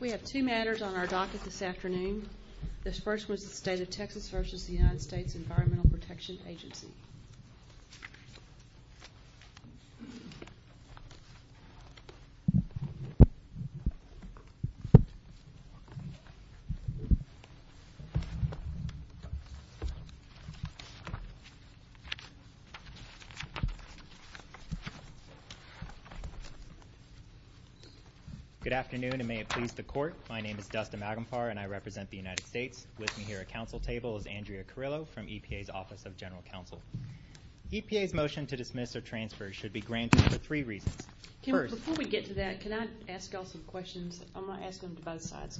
We have two matters on our docket this afternoon. The first was the state of Texas v. the United States Environmental Protection Agency. Good afternoon and may it please the court, my name is Dustin Magomfar and I represent the United States. With me here at council table is Andrea Carrillo from EPA's Office of General Counsel. EPA's motion to dismiss or transfer should be granted for three reasons. Before we get to that, can I ask y'all some questions? I'm going to ask them to both sides.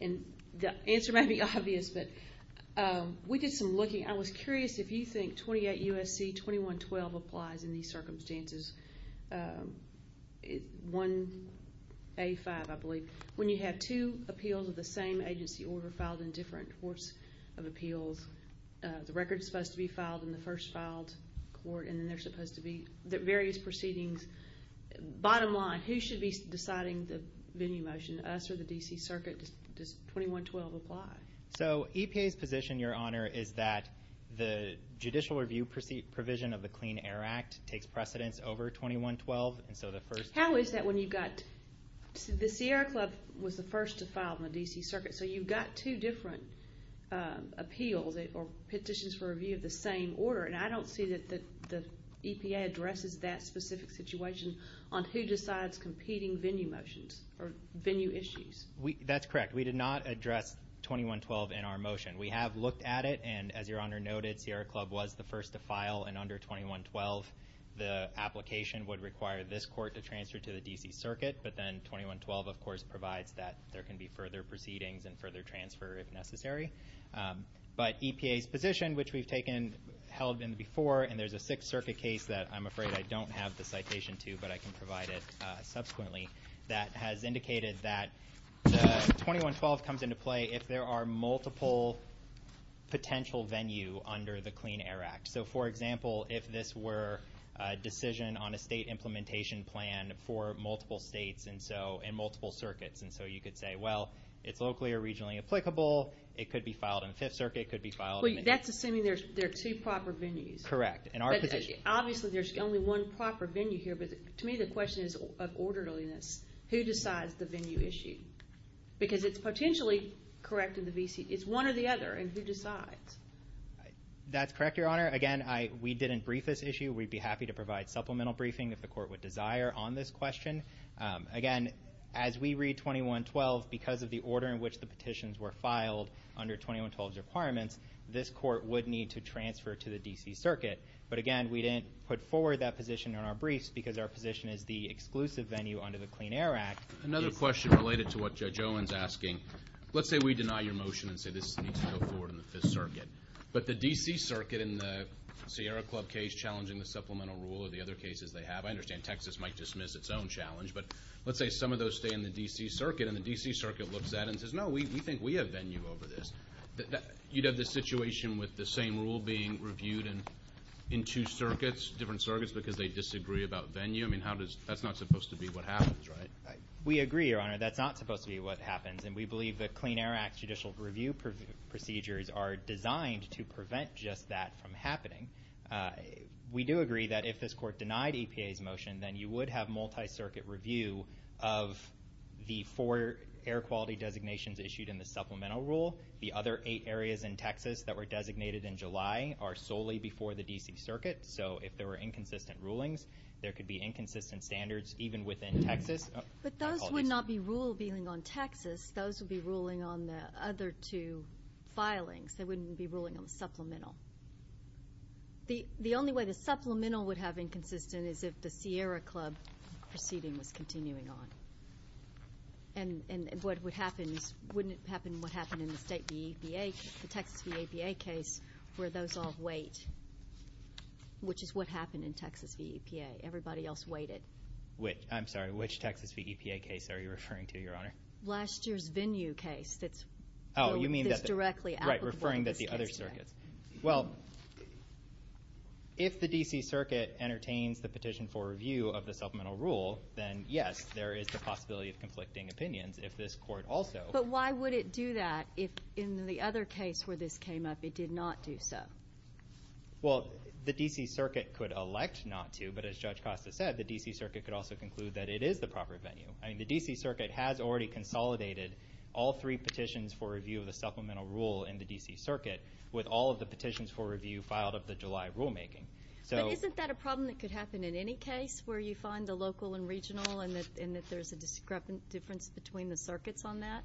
And the answer may be obvious, but we did some looking. I was curious if you think 28 U.S.C. 2112 applies in these circumstances, 1A5 I believe, when you have two appeals of the same agency order filed in different courts of appeals. The record is supposed to be filed in the first filed court and then there's supposed to be various proceedings. Bottom line, who should be deciding the venue motion? Us or the D.C. Circuit? Does 2112 apply? So EPA's position, your honor, is that the judicial review provision of the Clean Air Act takes precedence over 2112. How is that when you've got, the Sierra Club was the first to file in the D.C. Circuit, so you've got two different appeals or petitions for review of the same order, and I don't see that the EPA addresses that specific situation on who decides competing venue motions or venue issues. That's correct. We did not address 2112 in our motion. We have looked at it, and as your honor noted, Sierra Club was the first to file, and under 2112, the application would require this court to transfer to the D.C. Circuit, but then 2112, of course, provides that there can be further proceedings and further transfer if necessary. But EPA's position, which we've taken, held in before, and there's a Sixth Circuit case that I'm afraid I don't have the citation to, but I can provide it subsequently, that has indicated that the 2112 comes into play if there are multiple potential venue under the Clean Air Act. So, for example, if this were a decision on a state implementation plan for multiple states and multiple circuits, and so you could say, well, it's locally or regionally applicable. It could be filed in Fifth Circuit. It could be filed in the D.C. Well, that's assuming there are two proper venues. Correct. In our position. Obviously, there's only one proper venue here, but to me the question is of orderliness. Who decides the venue issue? Because it's potentially correct in the D.C. It's one or the other, and who decides? That's correct, your honor. Again, we didn't brief this issue. We'd be happy to provide supplemental briefing if the court would desire on this question. Again, as we read 2112, because of the order in which the petitions were filed under 2112's requirements, this court would need to transfer to the D.C. Circuit. But, again, we didn't put forward that position in our briefs because our position is the exclusive venue under the Clean Air Act. Another question related to what Judge Owen's asking. Let's say we deny your motion and say this needs to go forward in the Fifth Circuit, but the D.C. Circuit in the Sierra Club case challenging the supplemental rule or the other cases they have, I understand Texas might dismiss its own challenge, but let's say some of those stay in the D.C. Circuit and the D.C. Circuit looks at it and says, no, we think we have venue over this. You'd have this situation with the same rule being reviewed in two circuits, different circuits, because they disagree about venue. I mean, that's not supposed to be what happens, right? We agree, your honor. That's not supposed to be what happens, and we believe the Clean Air Act judicial review procedures are designed to prevent just that from happening. We do agree that if this court denied EPA's motion, then you would have multi-circuit review of the four air quality designations issued in the supplemental rule. The other eight areas in Texas that were designated in July are solely before the D.C. Circuit. So if there were inconsistent rulings, there could be inconsistent standards even within Texas. But those would not be ruling on Texas. Those would be ruling on the other two filings. They wouldn't be ruling on the supplemental. The only way the supplemental would have inconsistent is if the Sierra Club proceeding was continuing on. And what would happen is wouldn't happen what happened in the state VEPA, the Texas VEPA case, where those all wait, which is what happened in Texas VEPA. Everybody else waited. I'm sorry, which Texas VEPA case are you referring to, your honor? Last year's venue case that's directly applicable to this case. Right, referring to the other circuits. Well, if the D.C. Circuit entertains the petition for review of the supplemental rule, then, yes, there is the possibility of conflicting opinions if this court also. But why would it do that if in the other case where this came up it did not do so? Well, the D.C. Circuit could elect not to, but as Judge Costa said, the D.C. Circuit could also conclude that it is the proper venue. The D.C. Circuit has already consolidated all three petitions for review of the supplemental rule in the D.C. Circuit with all of the petitions for review filed of the July rulemaking. But isn't that a problem that could happen in any case where you find the local and regional and that there's a difference between the circuits on that?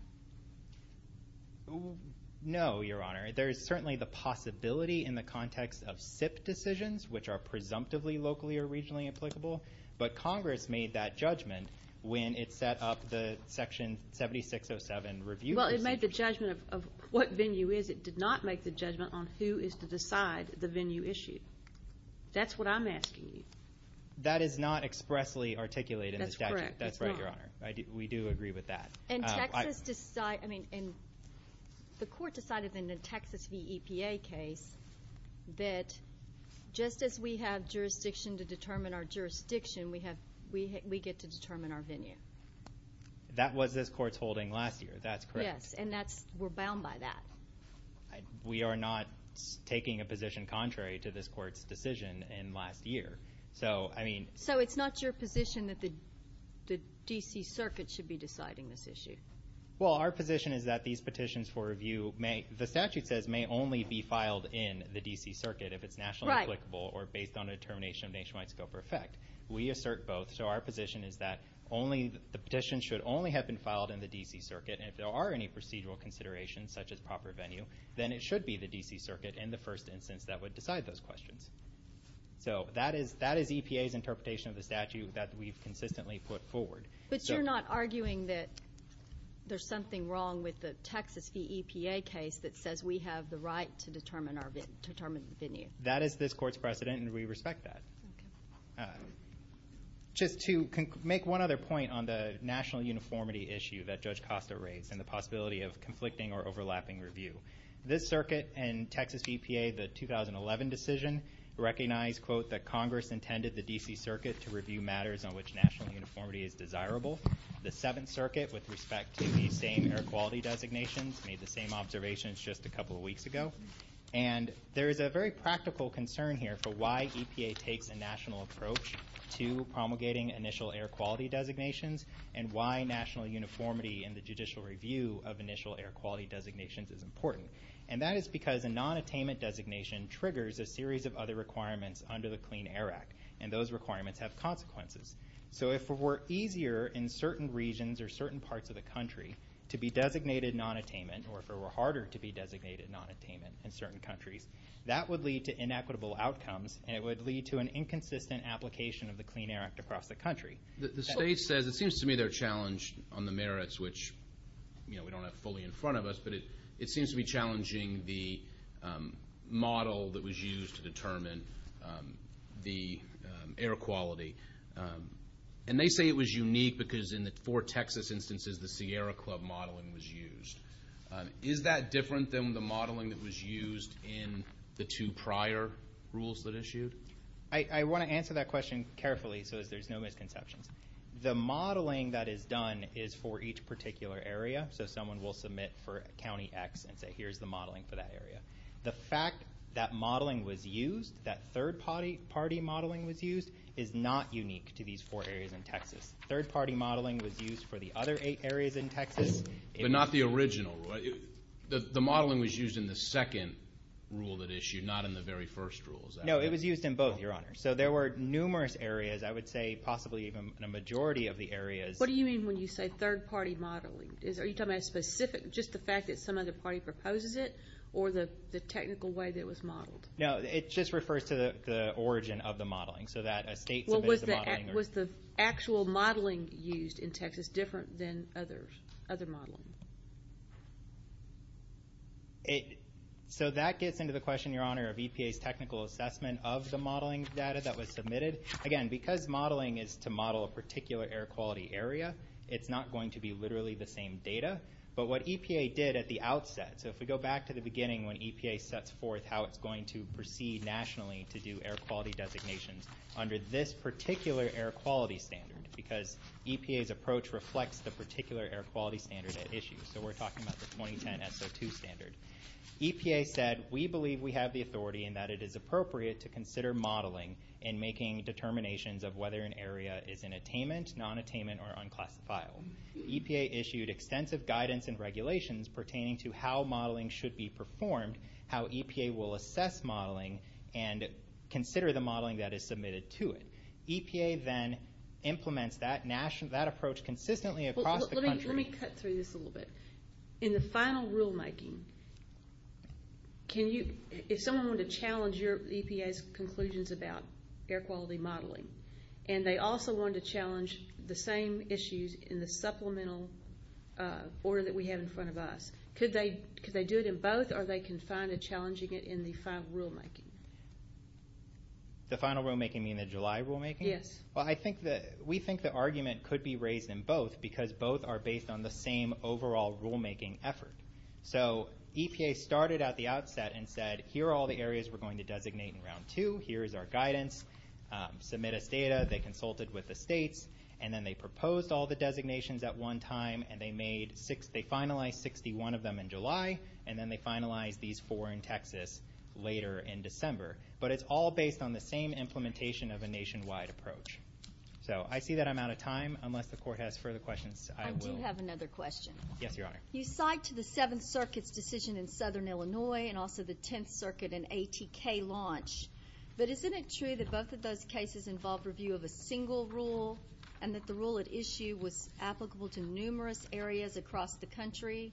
No, your honor. There is certainly the possibility in the context of SIP decisions, which are presumptively locally or regionally applicable, but Congress made that judgment when it set up the Section 7607 review procedure. Well, it made the judgment of what venue is. It did not make the judgment on who is to decide the venue issued. That's what I'm asking you. That is not expressly articulated in the statute. That's correct. That's right, your honor. We do agree with that. The court decided in the Texas v. EPA case that just as we have jurisdiction to determine our jurisdiction, we get to determine our venue. That was this court's holding last year. That's correct. Yes, and we're bound by that. We are not taking a position contrary to this court's decision in last year. So it's not your position that the D.C. Circuit should be deciding this issue? Well, our position is that these petitions for review, the statute says, may only be filed in the D.C. Circuit if it's nationally applicable or based on a determination of nationwide scope or effect. We assert both. So our position is that the petition should only have been filed in the D.C. Circuit, and if there are any procedural considerations such as proper venue, then it should be the D.C. Circuit in the first instance that would decide those questions. So that is EPA's interpretation of the statute that we've consistently put forward. But you're not arguing that there's something wrong with the Texas v. EPA case that says we have the right to determine the venue? That is this court's precedent, and we respect that. Okay. Just to make one other point on the national uniformity issue that Judge Costa raised and the possibility of conflicting or overlapping review, this circuit and Texas v. EPA, the 2011 decision, recognize, quote, that Congress intended the D.C. Circuit to review matters on which national uniformity is desirable. The Seventh Circuit, with respect to the same air quality designations, made the same observations just a couple of weeks ago. And there is a very practical concern here for why EPA takes a national approach to promulgating initial air quality designations and why national uniformity in the judicial review of initial air quality designations is important. And that is because a nonattainment designation triggers a series of other requirements under the Clean Air Act, and those requirements have consequences. So if it were easier in certain regions or certain parts of the country to be designated nonattainment or if it were harder to be designated nonattainment in certain countries, that would lead to inequitable outcomes, and it would lead to an inconsistent application of the Clean Air Act across the country. The state says it seems to me they're challenged on the merits, which, you know, we don't have fully in front of us, but it seems to be challenging the model that was used to determine the air quality. And they say it was unique because in the four Texas instances, the Sierra Club modeling was used. Is that different than the modeling that was used in the two prior rules that issued? I want to answer that question carefully so that there's no misconceptions. The modeling that is done is for each particular area. So someone will submit for County X and say, here's the modeling for that area. The fact that modeling was used, that third-party modeling was used, is not unique to these four areas in Texas. Third-party modeling was used for the other eight areas in Texas. But not the original. The modeling was used in the second rule that issued, not in the very first rule. No, it was used in both, Your Honor. So there were numerous areas, I would say possibly even a majority of the areas. What do you mean when you say third-party modeling? Are you talking about specific, just the fact that some other party proposes it, or the technical way that it was modeled? No, it just refers to the origin of the modeling, so that a state submitted the modeling. Was the actual modeling used in Texas different than other modeling? So that gets into the question, Your Honor, of EPA's technical assessment of the modeling data that was submitted. Again, because modeling is to model a particular air quality area, it's not going to be literally the same data. But what EPA did at the outset, so if we go back to the beginning when EPA sets forth how it's going to proceed nationally to do air quality designations under this particular air quality standard, because EPA's approach reflects the particular air quality standard at issue. So we're talking about the 2010 SO2 standard. EPA said, We believe we have the authority and that it is appropriate to consider modeling in making determinations of whether an area is in attainment, non-attainment, or unclassifiable. EPA issued extensive guidance and regulations pertaining to how modeling should be performed, how EPA will assess modeling, and consider the modeling that is submitted to it. EPA then implements that approach consistently across the country. Let me cut through this a little bit. In the final rulemaking, if someone wanted to challenge your EPA's conclusions about air quality modeling, and they also wanted to challenge the same issues in the supplemental order that we have in front of us, could they do it in both or are they confined to challenging it in the final rulemaking? The final rulemaking, you mean the July rulemaking? Yes. Well, we think the argument could be raised in both because both are based on the same overall rulemaking effort. So EPA started at the outset and said, Here are all the areas we're going to designate in Round 2. Here is our guidance. Submit us data. They consulted with the states, and then they proposed all the designations at one time. They finalized 61 of them in July, and then they finalized these four in Texas later in December. But it's all based on the same implementation of a nationwide approach. So I see that I'm out of time. Unless the Court has further questions, I will. I do have another question. Yes, Your Honor. You cite the Seventh Circuit's decision in Southern Illinois and also the Tenth Circuit and ATK launch, but isn't it true that both of those cases involved review of a single rule and that the rule at issue was applicable to numerous areas across the country?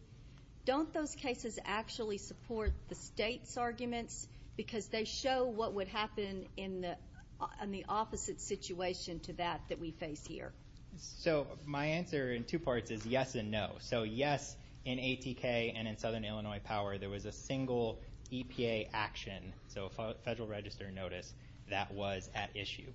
Don't those cases actually support the states' arguments because they show what would happen in the opposite situation to that that we face here? So my answer in two parts is yes and no. So yes, in ATK and in Southern Illinois Power, there was a single EPA action, so a Federal Register notice, that was at issue.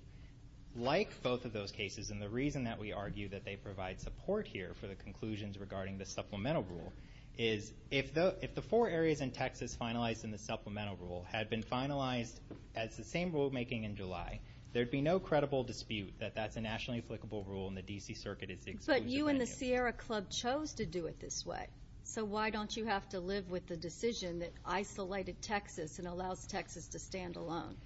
Like both of those cases, and the reason that we argue that they provide support here for the conclusions regarding the supplemental rule is if the four areas in Texas finalized in the supplemental rule had been finalized as the same rulemaking in July, there would be no credible dispute that that's a nationally applicable rule and the D.C. Circuit is the exclusive venue. But you and the Sierra Club chose to do it this way, so why don't you have to live with the decision that isolated Texas and allows Texas to stand alone?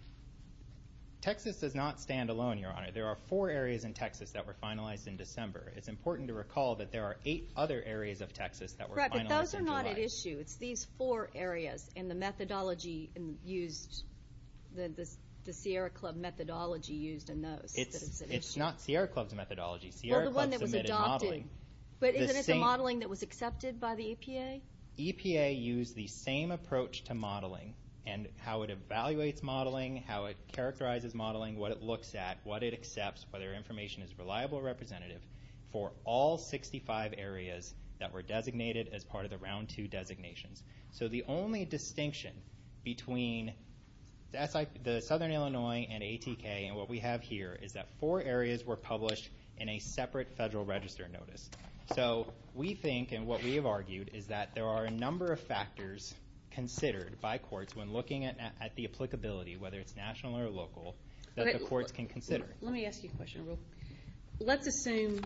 Texas does not stand alone, Your Honor. There are four areas in Texas that were finalized in December. It's important to recall that there are eight other areas of Texas that were finalized in July. Correct, but those are not at issue. It's these four areas and the methodology used, the Sierra Club methodology used in those. It's not Sierra Club's methodology. Sierra Club submitted modeling. But isn't it the modeling that was accepted by the EPA? EPA used the same approach to modeling and how it evaluates modeling, how it characterizes modeling, what it looks at, what it accepts, whether information is reliable or representative for all 65 areas that were designated as part of the Round 2 designations. So the only distinction between the Southern Illinois and ATK and what we have here is that four areas were published in a separate federal register notice. So we think and what we have argued is that there are a number of factors considered by courts when looking at the applicability, whether it's national or local, that the courts can consider. Let me ask you a question. Let's assume,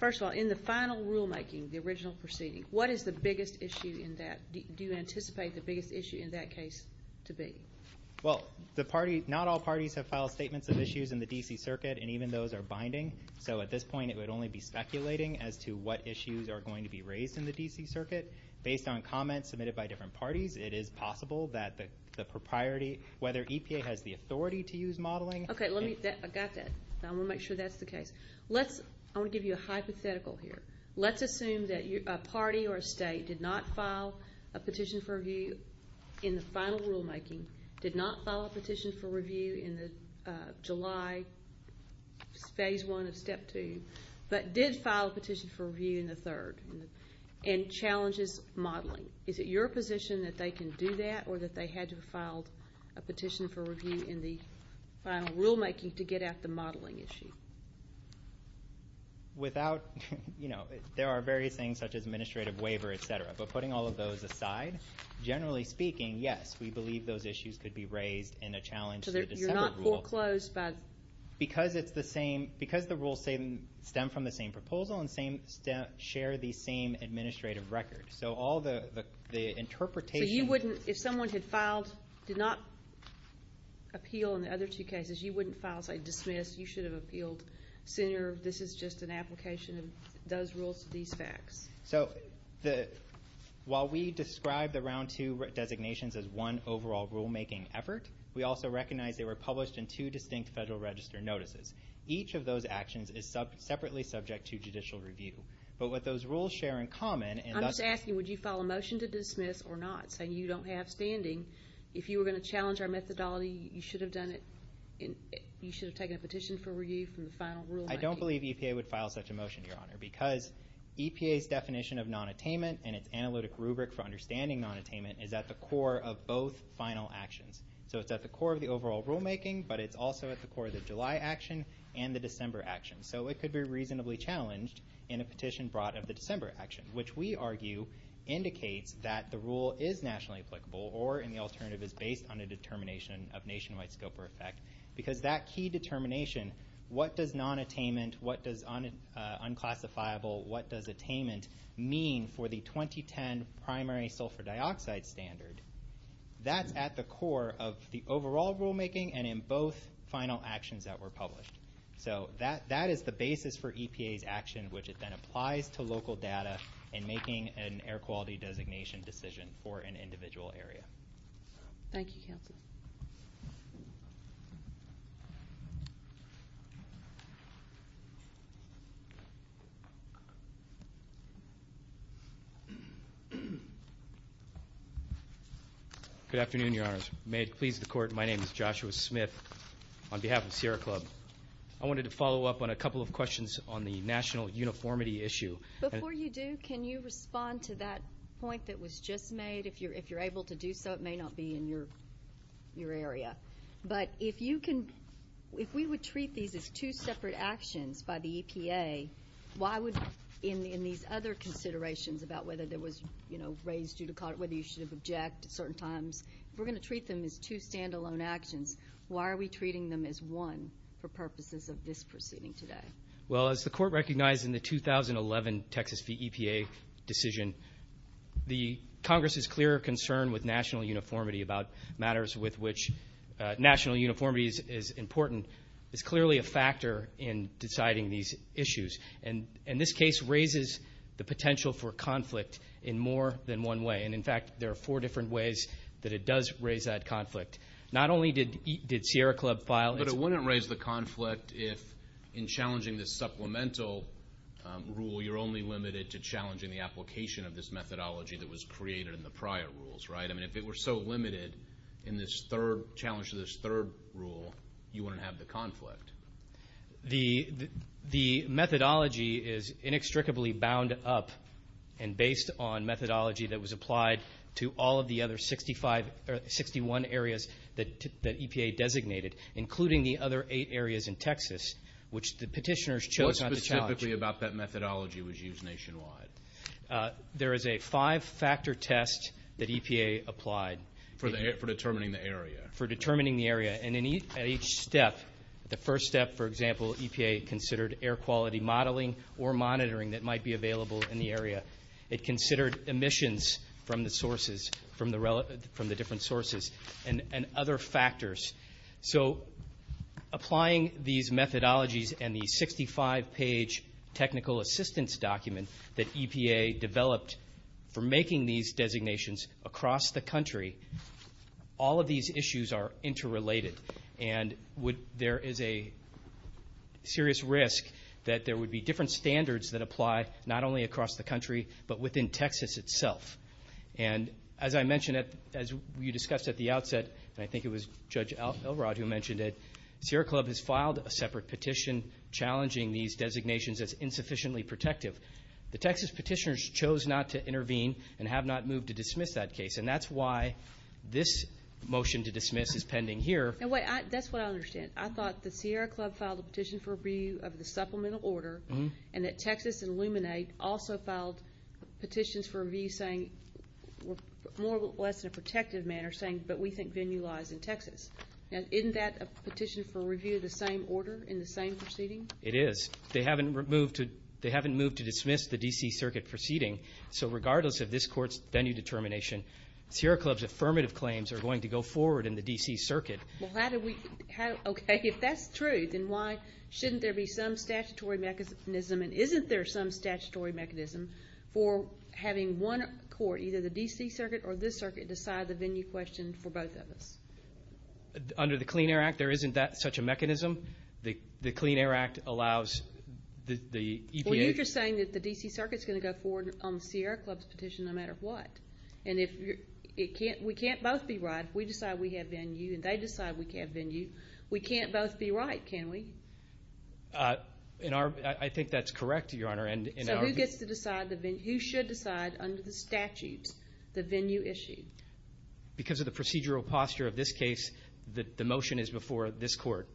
first of all, in the final rulemaking, the original proceeding, what is the biggest issue in that? Do you anticipate the biggest issue in that case to be? Well, not all parties have filed statements of issues in the D.C. Circuit, and even those are binding. So at this point it would only be speculating as to what issues are going to be raised in the D.C. Circuit. Based on comments submitted by different parties, it is possible that the propriety, whether EPA has the authority to use modeling. Okay, I got that. I want to make sure that's the case. I want to give you a hypothetical here. Let's assume that a party or a state did not file a petition for review in the final rulemaking, did not file a petition for review in the July Phase 1 of Step 2, but did file a petition for review in the third and challenges modeling. Is it your position that they can do that or that they had to have filed a petition for review in the final rulemaking to get at the modeling issue? Without, you know, there are various things such as administrative waiver, et cetera, but putting all of those aside, generally speaking, yes, we believe those issues could be raised in a challenge to the separate rules. So you're not foreclosed by? Because it's the same, because the rules stem from the same proposal and share the same administrative record. So all the interpretation. So you wouldn't, if someone had filed, did not appeal in the other two cases, you wouldn't file a dismiss, you should have appealed sooner, this is just an application of those rules to these facts. So while we describe the Round 2 designations as one overall rulemaking effort, we also recognize they were published in two distinct Federal Register notices. Each of those actions is separately subject to judicial review. But what those rules share in common and thus... Would you file a motion to dismiss or not? So you don't have standing. If you were going to challenge our methodology, you should have done it, you should have taken a petition for review from the final rulemaking. I don't believe EPA would file such a motion, Your Honor, because EPA's definition of nonattainment and its analytic rubric for understanding nonattainment is at the core of both final actions. So it's at the core of the overall rulemaking, but it's also at the core of the July action and the December action. So it could be reasonably challenged in a petition brought of the December action, which we argue indicates that the rule is nationally applicable or in the alternative is based on a determination of nationwide scope or effect. Because that key determination, what does nonattainment, what does unclassifiable, what does attainment mean for the 2010 primary sulfur dioxide standard, that's at the core of the overall rulemaking and in both final actions that were published. So that is the basis for EPA's action, which then applies to local data in making an air quality designation decision for an individual area. Thank you, Counsel. Good afternoon, Your Honors. May it please the Court, my name is Joshua Smith. On behalf of Sierra Club, I wanted to follow up on a couple of questions on the national uniformity issue. Before you do, can you respond to that point that was just made? If you're able to do so, it may not be in your area. But if we would treat these as two separate actions by the EPA, why would in these other considerations about whether there was raised judicata, whether you should object at certain times, if we're going to treat them as two stand-alone actions, why are we treating them as one for purposes of this proceeding today? Well, as the Court recognized in the 2011 Texas EPA decision, the Congress's clear concern with national uniformity about matters with which national uniformity is important is clearly a factor in deciding these issues. And this case raises the potential for conflict in more than one way. And, in fact, there are four different ways that it does raise that conflict. Not only did Sierra Club file its... But it wouldn't raise the conflict if, in challenging this supplemental rule, you're only limited to challenging the application of this methodology that was created in the prior rules, right? I mean, if it were so limited in this third rule, you wouldn't have the conflict. The methodology is inextricably bound up and based on methodology that was applied to all of the other 61 areas that EPA designated, including the other eight areas in Texas, which the petitioners chose not to challenge. What specifically about that methodology was used nationwide? There is a five-factor test that EPA applied. For determining the area. For determining the area. And at each step, the first step, for example, EPA considered air quality modeling or monitoring that might be available in the area. It considered emissions from the sources, from the different sources, and other factors. So applying these methodologies and the 65-page technical assistance document that EPA developed for making these designations across the country, all of these issues are interrelated. And there is a serious risk that there would be different standards that apply, not only across the country, but within Texas itself. And as I mentioned, as you discussed at the outset, and I think it was Judge Elrod who mentioned it, Sierra Club has filed a separate petition challenging these designations as insufficiently protective. The Texas petitioners chose not to intervene and have not moved to dismiss that case. And that's why this motion to dismiss is pending here. That's what I understand. I thought the Sierra Club filed a petition for review of the supplemental order, and that Texas and Luminate also filed petitions for review saying more or less in a protective manner, saying, but we think venue lies in Texas. Now, isn't that a petition for review of the same order in the same proceeding? It is. They haven't moved to dismiss the D.C. Circuit proceeding. So regardless of this court's venue determination, Sierra Club's affirmative claims are going to go forward in the D.C. Circuit. Well, how do we? Okay, if that's true, then why shouldn't there be some statutory mechanism and isn't there some statutory mechanism for having one court, either the D.C. Circuit or this circuit, decide the venue question for both of us? Under the Clean Air Act, there isn't such a mechanism. The Clean Air Act allows the EPA. Well, you're just saying that the D.C. Circuit is going to go forward on Sierra Club's petition no matter what. And we can't both be right. We decide we have venue and they decide we have venue. We can't both be right, can we? I think that's correct, Your Honor. So who gets to decide the venue? Who should decide under the statutes the venue issue? Because of the procedural posture of this case, the motion is before this court,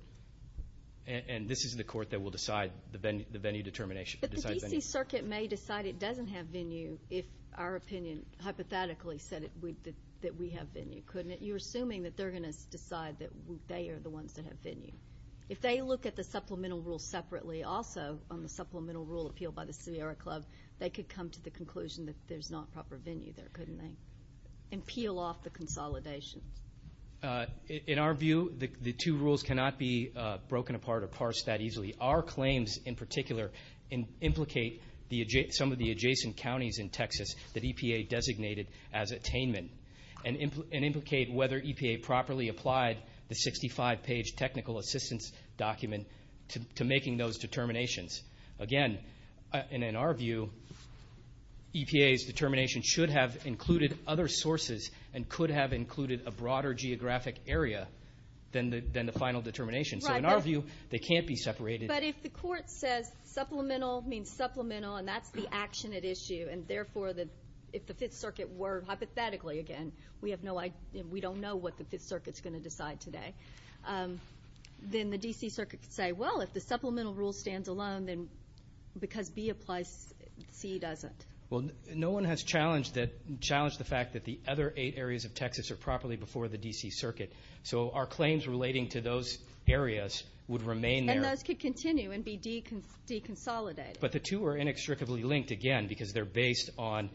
and this is the court that will decide the venue determination. But the D.C. Circuit may decide it doesn't have venue if our opinion hypothetically said that we have venue, couldn't it? You're assuming that they're going to decide that they are the ones that have venue. If they look at the supplemental rule separately, also on the supplemental rule appealed by the Sierra Club, they could come to the conclusion that there's not proper venue there, couldn't they? And peel off the consolidations. In our view, the two rules cannot be broken apart or parsed that easily. Our claims in particular implicate some of the adjacent counties in Texas that EPA designated as attainment and implicate whether EPA properly applied the 65-page technical assistance document to making those determinations. Again, and in our view, EPA's determination should have included other sources and could have included a broader geographic area than the final determination. So in our view, they can't be separated. But if the court says supplemental means supplemental, and that's the action at issue, and therefore if the Fifth Circuit were hypothetically, again, we don't know what the Fifth Circuit's going to decide today, then the D.C. Circuit could say, well, if the supplemental rule stands alone, then because B applies, C doesn't. Well, no one has challenged the fact that the other eight areas of Texas are properly before the D.C. Circuit. So our claims relating to those areas would remain there. And those could continue and be deconsolidated. But the two are inextricably linked, again, because they're based on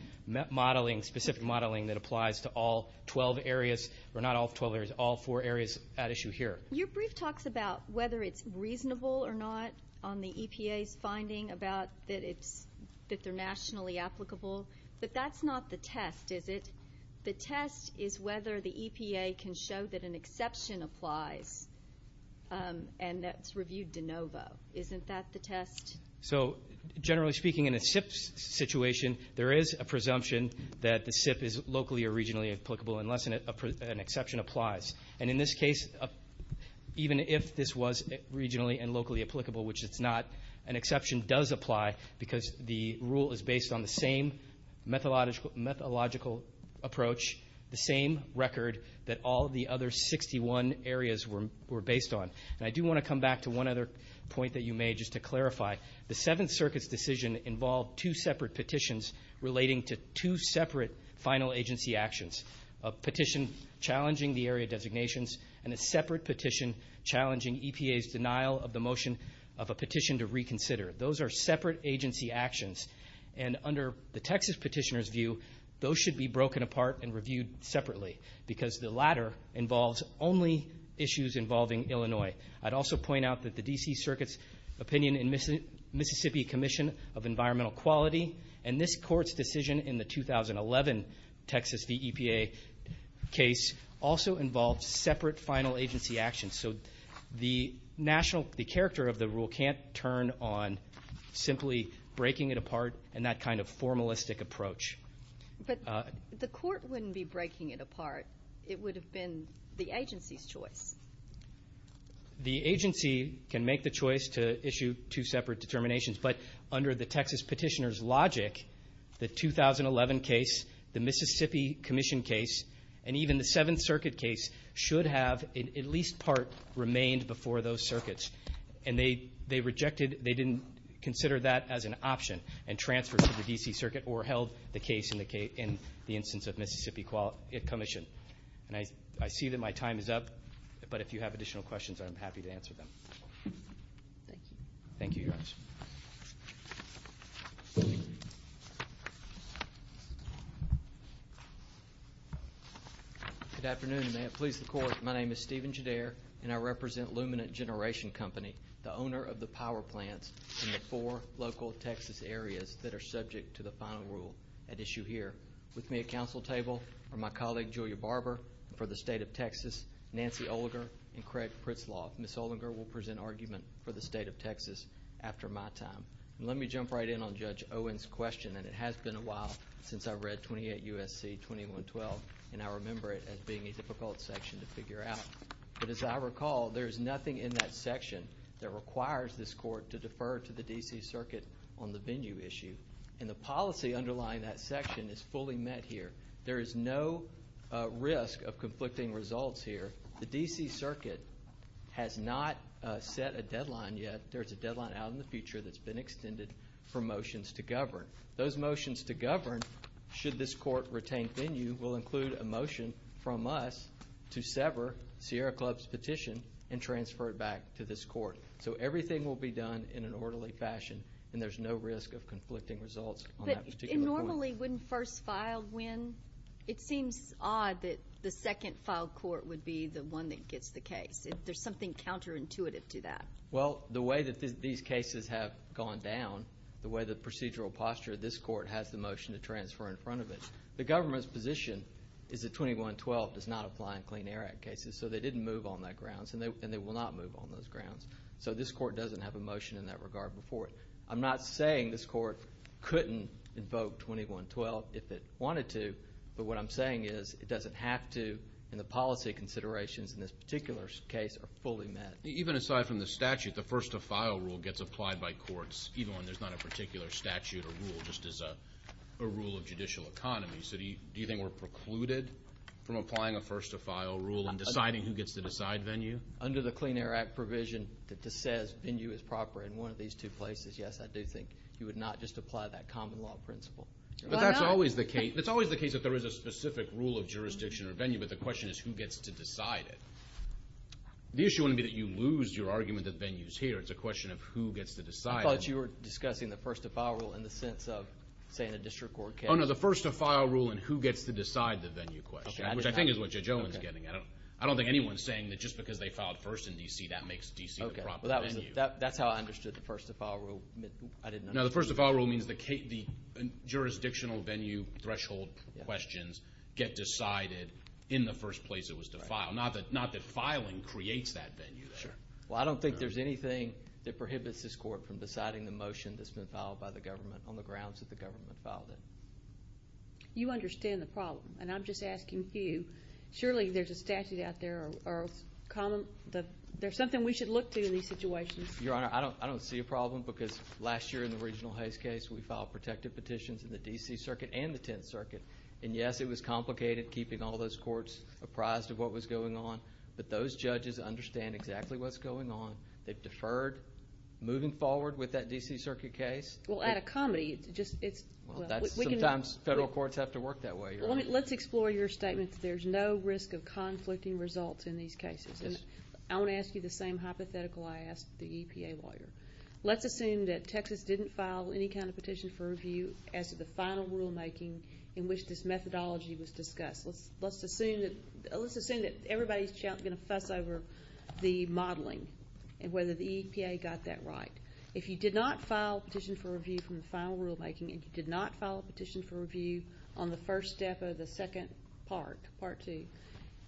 modeling, specific modeling that applies to all 12 areas or not all 12 areas, all four areas at issue here. Your brief talks about whether it's reasonable or not on the EPA's finding about that they're nationally applicable. But that's not the test, is it? The test is whether the EPA can show that an exception applies and that it's reviewed de novo. Isn't that the test? So generally speaking, in a SIP situation, there is a presumption that the SIP is locally or regionally applicable unless an exception applies. And in this case, even if this was regionally and locally applicable, which it's not, an exception does apply because the rule is based on the same methodological approach, the same record that all the other 61 areas were based on. And I do want to come back to one other point that you made just to clarify. The Seventh Circuit's decision involved two separate petitions relating to two separate final agency actions, a petition challenging the area designations and a separate petition challenging EPA's denial of the motion of a petition to reconsider. Those are separate agency actions. And under the Texas petitioner's view, those should be broken apart and reviewed separately because the latter involves only issues involving Illinois. I'd also point out that the D.C. Circuit's opinion in Mississippi Commission of Environmental Quality and this Court's decision in the 2011 Texas v. EPA case also involved separate final agency actions. So the national, the character of the rule can't turn on simply breaking it apart and that kind of formalistic approach. But the Court wouldn't be breaking it apart. It would have been the agency's choice. The agency can make the choice to issue two separate determinations. But under the Texas petitioner's logic, the 2011 case, the Mississippi Commission case, and even the Seventh Circuit case should have at least part remained before those circuits. And they rejected, they didn't consider that as an option and transferred to the D.C. Circuit or held the case in the instance of Mississippi Commission. And I see that my time is up. But if you have additional questions, I'm happy to answer them. Thank you, Your Honors. Good afternoon. May it please the Court, my name is Stephen Jader and I represent Luminant Generation Company, the owner of the power plants in the four local Texas areas that are subject to the final rule at issue here. With me at council table are my colleague Julia Barber for the State of Texas, Nancy Olinger, and Craig Pritzlaff. Ms. Olinger will present argument for the State of Texas after my time. Let me jump right in on Judge Owen's question. And it has been a while since I read 28 U.S.C. 2112. And I remember it as being a difficult section to figure out. But as I recall, there is nothing in that section that requires this court to defer to the D.C. Circuit on the venue issue. And the policy underlying that section is fully met here. There is no risk of conflicting results here. The D.C. Circuit has not set a deadline yet. There's a deadline out in the future that's been extended for motions to govern. Those motions to govern, should this court retain venue, will include a motion from us to sever Sierra Club's petition and transfer it back to this court. So everything will be done in an orderly fashion, and there's no risk of conflicting results on that particular point. But normally, when first filed, when? It seems odd that the second filed court would be the one that gets the case. There's something counterintuitive to that. Well, the way that these cases have gone down, the way the procedural posture of this court has the motion to transfer in front of it. The government's position is that 2112 does not apply in Clean Air Act cases. So they didn't move on that grounds, and they will not move on those grounds. So this court doesn't have a motion in that regard before it. I'm not saying this court couldn't invoke 2112 if it wanted to, but what I'm saying is it doesn't have to, and the policy considerations in this particular case are fully met. Even aside from the statute, the first to file rule gets applied by courts, even when there's not a particular statute or rule, just as a rule of judicial economy. So do you think we're precluded from applying a first to file rule and deciding who gets to decide venue? Under the Clean Air Act provision that says venue is proper in one of these two places, yes, I do think. You would not just apply that common law principle. But that's always the case. It's always the case that there is a specific rule of jurisdiction or venue, but the question is who gets to decide it. The issue wouldn't be that you lose your argument that venue is here. It's a question of who gets to decide it. I thought you were discussing the first to file rule in the sense of, say, in a district court case. Oh, no, the first to file rule and who gets to decide the venue question, which I think is what Judge Owens is getting at. I don't think anyone's saying that just because they filed first in D.C. that makes D.C. the proper venue. That's how I understood the first to file rule. No, the first to file rule means the jurisdictional venue threshold questions get decided in the first place it was to file. Not that filing creates that venue. Well, I don't think there's anything that prohibits this court from deciding the motion that's been filed by the government on the grounds that the government filed it. You understand the problem, and I'm just asking you. Surely there's a statute out there or there's something we should look to in these situations. Your Honor, I don't see a problem because last year in the Regional Hayes case, we filed protective petitions in the D.C. Circuit and the Tenth Circuit. And, yes, it was complicated keeping all those courts apprised of what was going on, but those judges understand exactly what's going on. They've deferred moving forward with that D.C. Circuit case. Well, add a comedy. Sometimes federal courts have to work that way, Your Honor. Let's explore your statement that there's no risk of conflicting results in these cases. I want to ask you the same hypothetical I asked the EPA lawyer. Let's assume that Texas didn't file any kind of petition for review as to the final rulemaking in which this methodology was discussed. Let's assume that everybody's going to fuss over the modeling and whether the EPA got that right. If you did not file a petition for review from the final rulemaking and you did not file a petition for review on the first step of the second part, part two,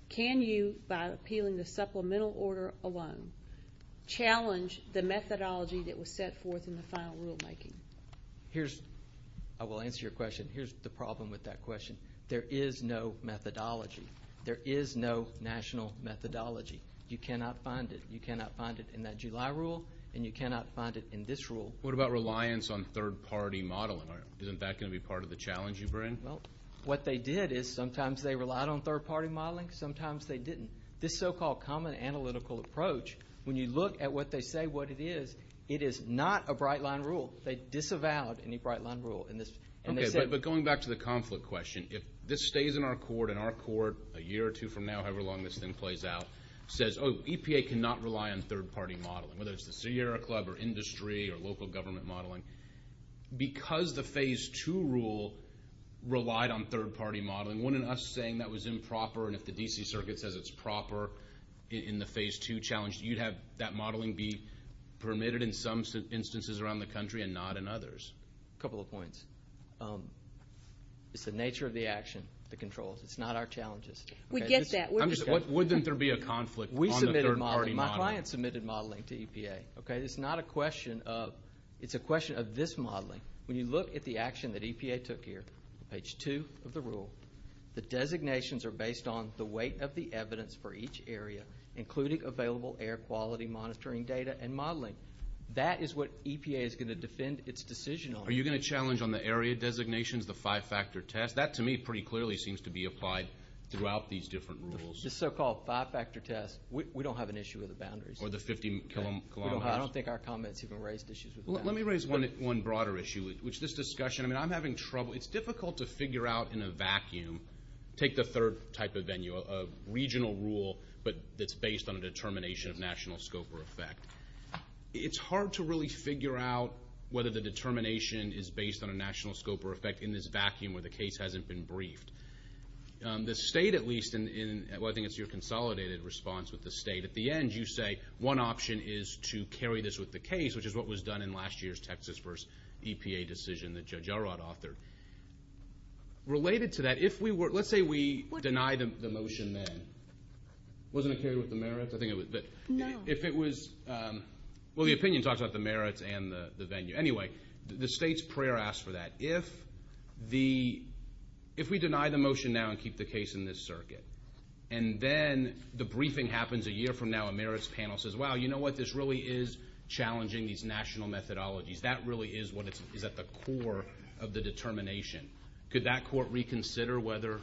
can you, by appealing the supplemental order alone, challenge the methodology that was set forth in the final rulemaking? Here's the problem with that question. There is no methodology. There is no national methodology. You cannot find it. You cannot find it in that July rule, and you cannot find it in this rule. What about reliance on third-party modeling? Isn't that going to be part of the challenge you bring? Well, what they did is sometimes they relied on third-party modeling, sometimes they didn't. This so-called common analytical approach, when you look at what they say what it is, it is not a bright-line rule. They disavowed any bright-line rule in this. Okay, but going back to the conflict question, if this stays in our court, and our court a year or two from now, however long this thing plays out, says, oh, EPA cannot rely on third-party modeling, whether it's the Sierra Club or industry or local government modeling, because the phase two rule relied on third-party modeling, wouldn't us saying that was improper and if the D.C. Circuit says it's proper in the phase two challenge, you'd have that modeling be permitted in some instances around the country and not in others? A couple of points. It's the nature of the action that controls. It's not our challenges. We get that. Wouldn't there be a conflict on the third-party modeling? We submitted modeling. My client submitted modeling to EPA. It's not a question of this modeling. When you look at the action that EPA took here, page two of the rule, the designations are based on the weight of the evidence for each area, including available air quality monitoring data and modeling. That is what EPA is going to defend its decision on. Are you going to challenge on the area designations, the five-factor test? That, to me, pretty clearly seems to be applied throughout these different rules. The so-called five-factor test, we don't have an issue with the boundaries. Or the 50-kilometer test. I don't think our comments even raised issues with the boundaries. Let me raise one broader issue, which this discussion, I mean, I'm having trouble. It's difficult to figure out in a vacuum, take the third type of venue, a regional rule that's based on a determination of national scope or effect. It's hard to really figure out whether the determination is based on a national scope or effect in this vacuum where the case hasn't been briefed. The state, at least, and I think it's your consolidated response with the state, at the end you say one option is to carry this with the case, which is what was done in last year's Texas v. EPA decision that Judge Elrod authored. Related to that, if we were, let's say we deny the motion then. Wasn't it carried with the merits? I think it was. No. If it was, well, the opinion talks about the merits and the venue. Anyway, the state's prayer asks for that. If the, if we deny the motion now and keep the case in this circuit, and then the briefing happens a year from now, a merits panel says, wow, you know what, this really is challenging these national methodologies. That really is what is at the core of the determination. Could that court reconsider whether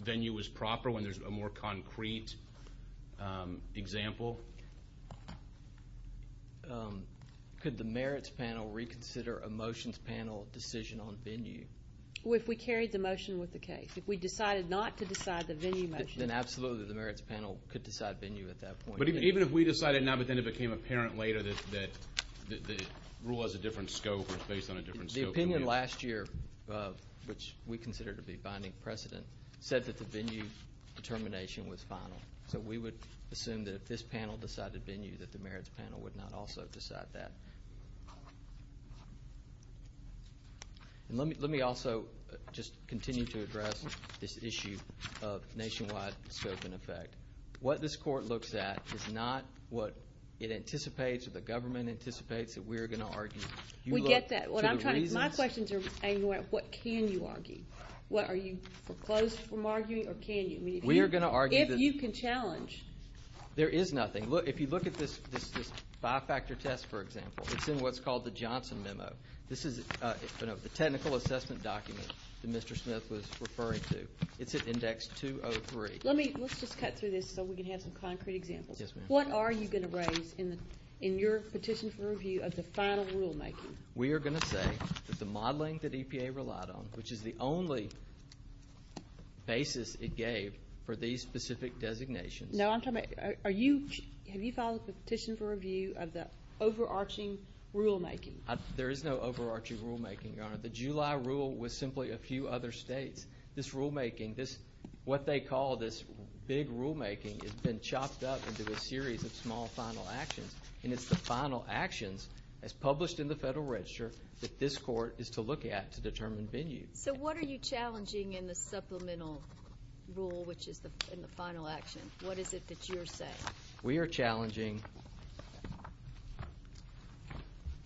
venue is proper when there's a more concrete example? Could the merits panel reconsider a motions panel decision on venue? Well, if we carried the motion with the case. If we decided not to decide the venue motion. Then absolutely the merits panel could decide venue at that point. But even if we decided now but then it became apparent later that the rule has a different scope or is based on a different scope. The opinion last year, which we consider to be binding precedent, said that the venue determination was final. So we would assume that if this panel decided venue that the merits panel would not also decide that. Let me also just continue to address this issue of nationwide scope and effect. What this court looks at is not what it anticipates or the government anticipates that we're going to argue. We get that. My questions are what can you argue? Are you foreclosed from arguing or can you? We are going to argue. If you can challenge. There is nothing. If you look at this five-factor test, for example, it's in what's called the Johnson memo. This is the technical assessment document that Mr. Smith was referring to. It's at index 203. Let's just cut through this so we can have some concrete examples. Yes, ma'am. What are you going to raise in your petition for review of the final rulemaking? We are going to say that the modeling that EPA relied on, which is the only basis it gave for these specific designations. No, I'm talking about have you filed a petition for review of the overarching rulemaking? There is no overarching rulemaking, Your Honor. The July rule was simply a few other states. This rulemaking, what they call this big rulemaking, has been chopped up into a series of small final actions. And it's the final actions, as published in the Federal Register, that this court is to look at to determine venue. So what are you challenging in the supplemental rule, which is the final action? What is it that you're saying? We are challenging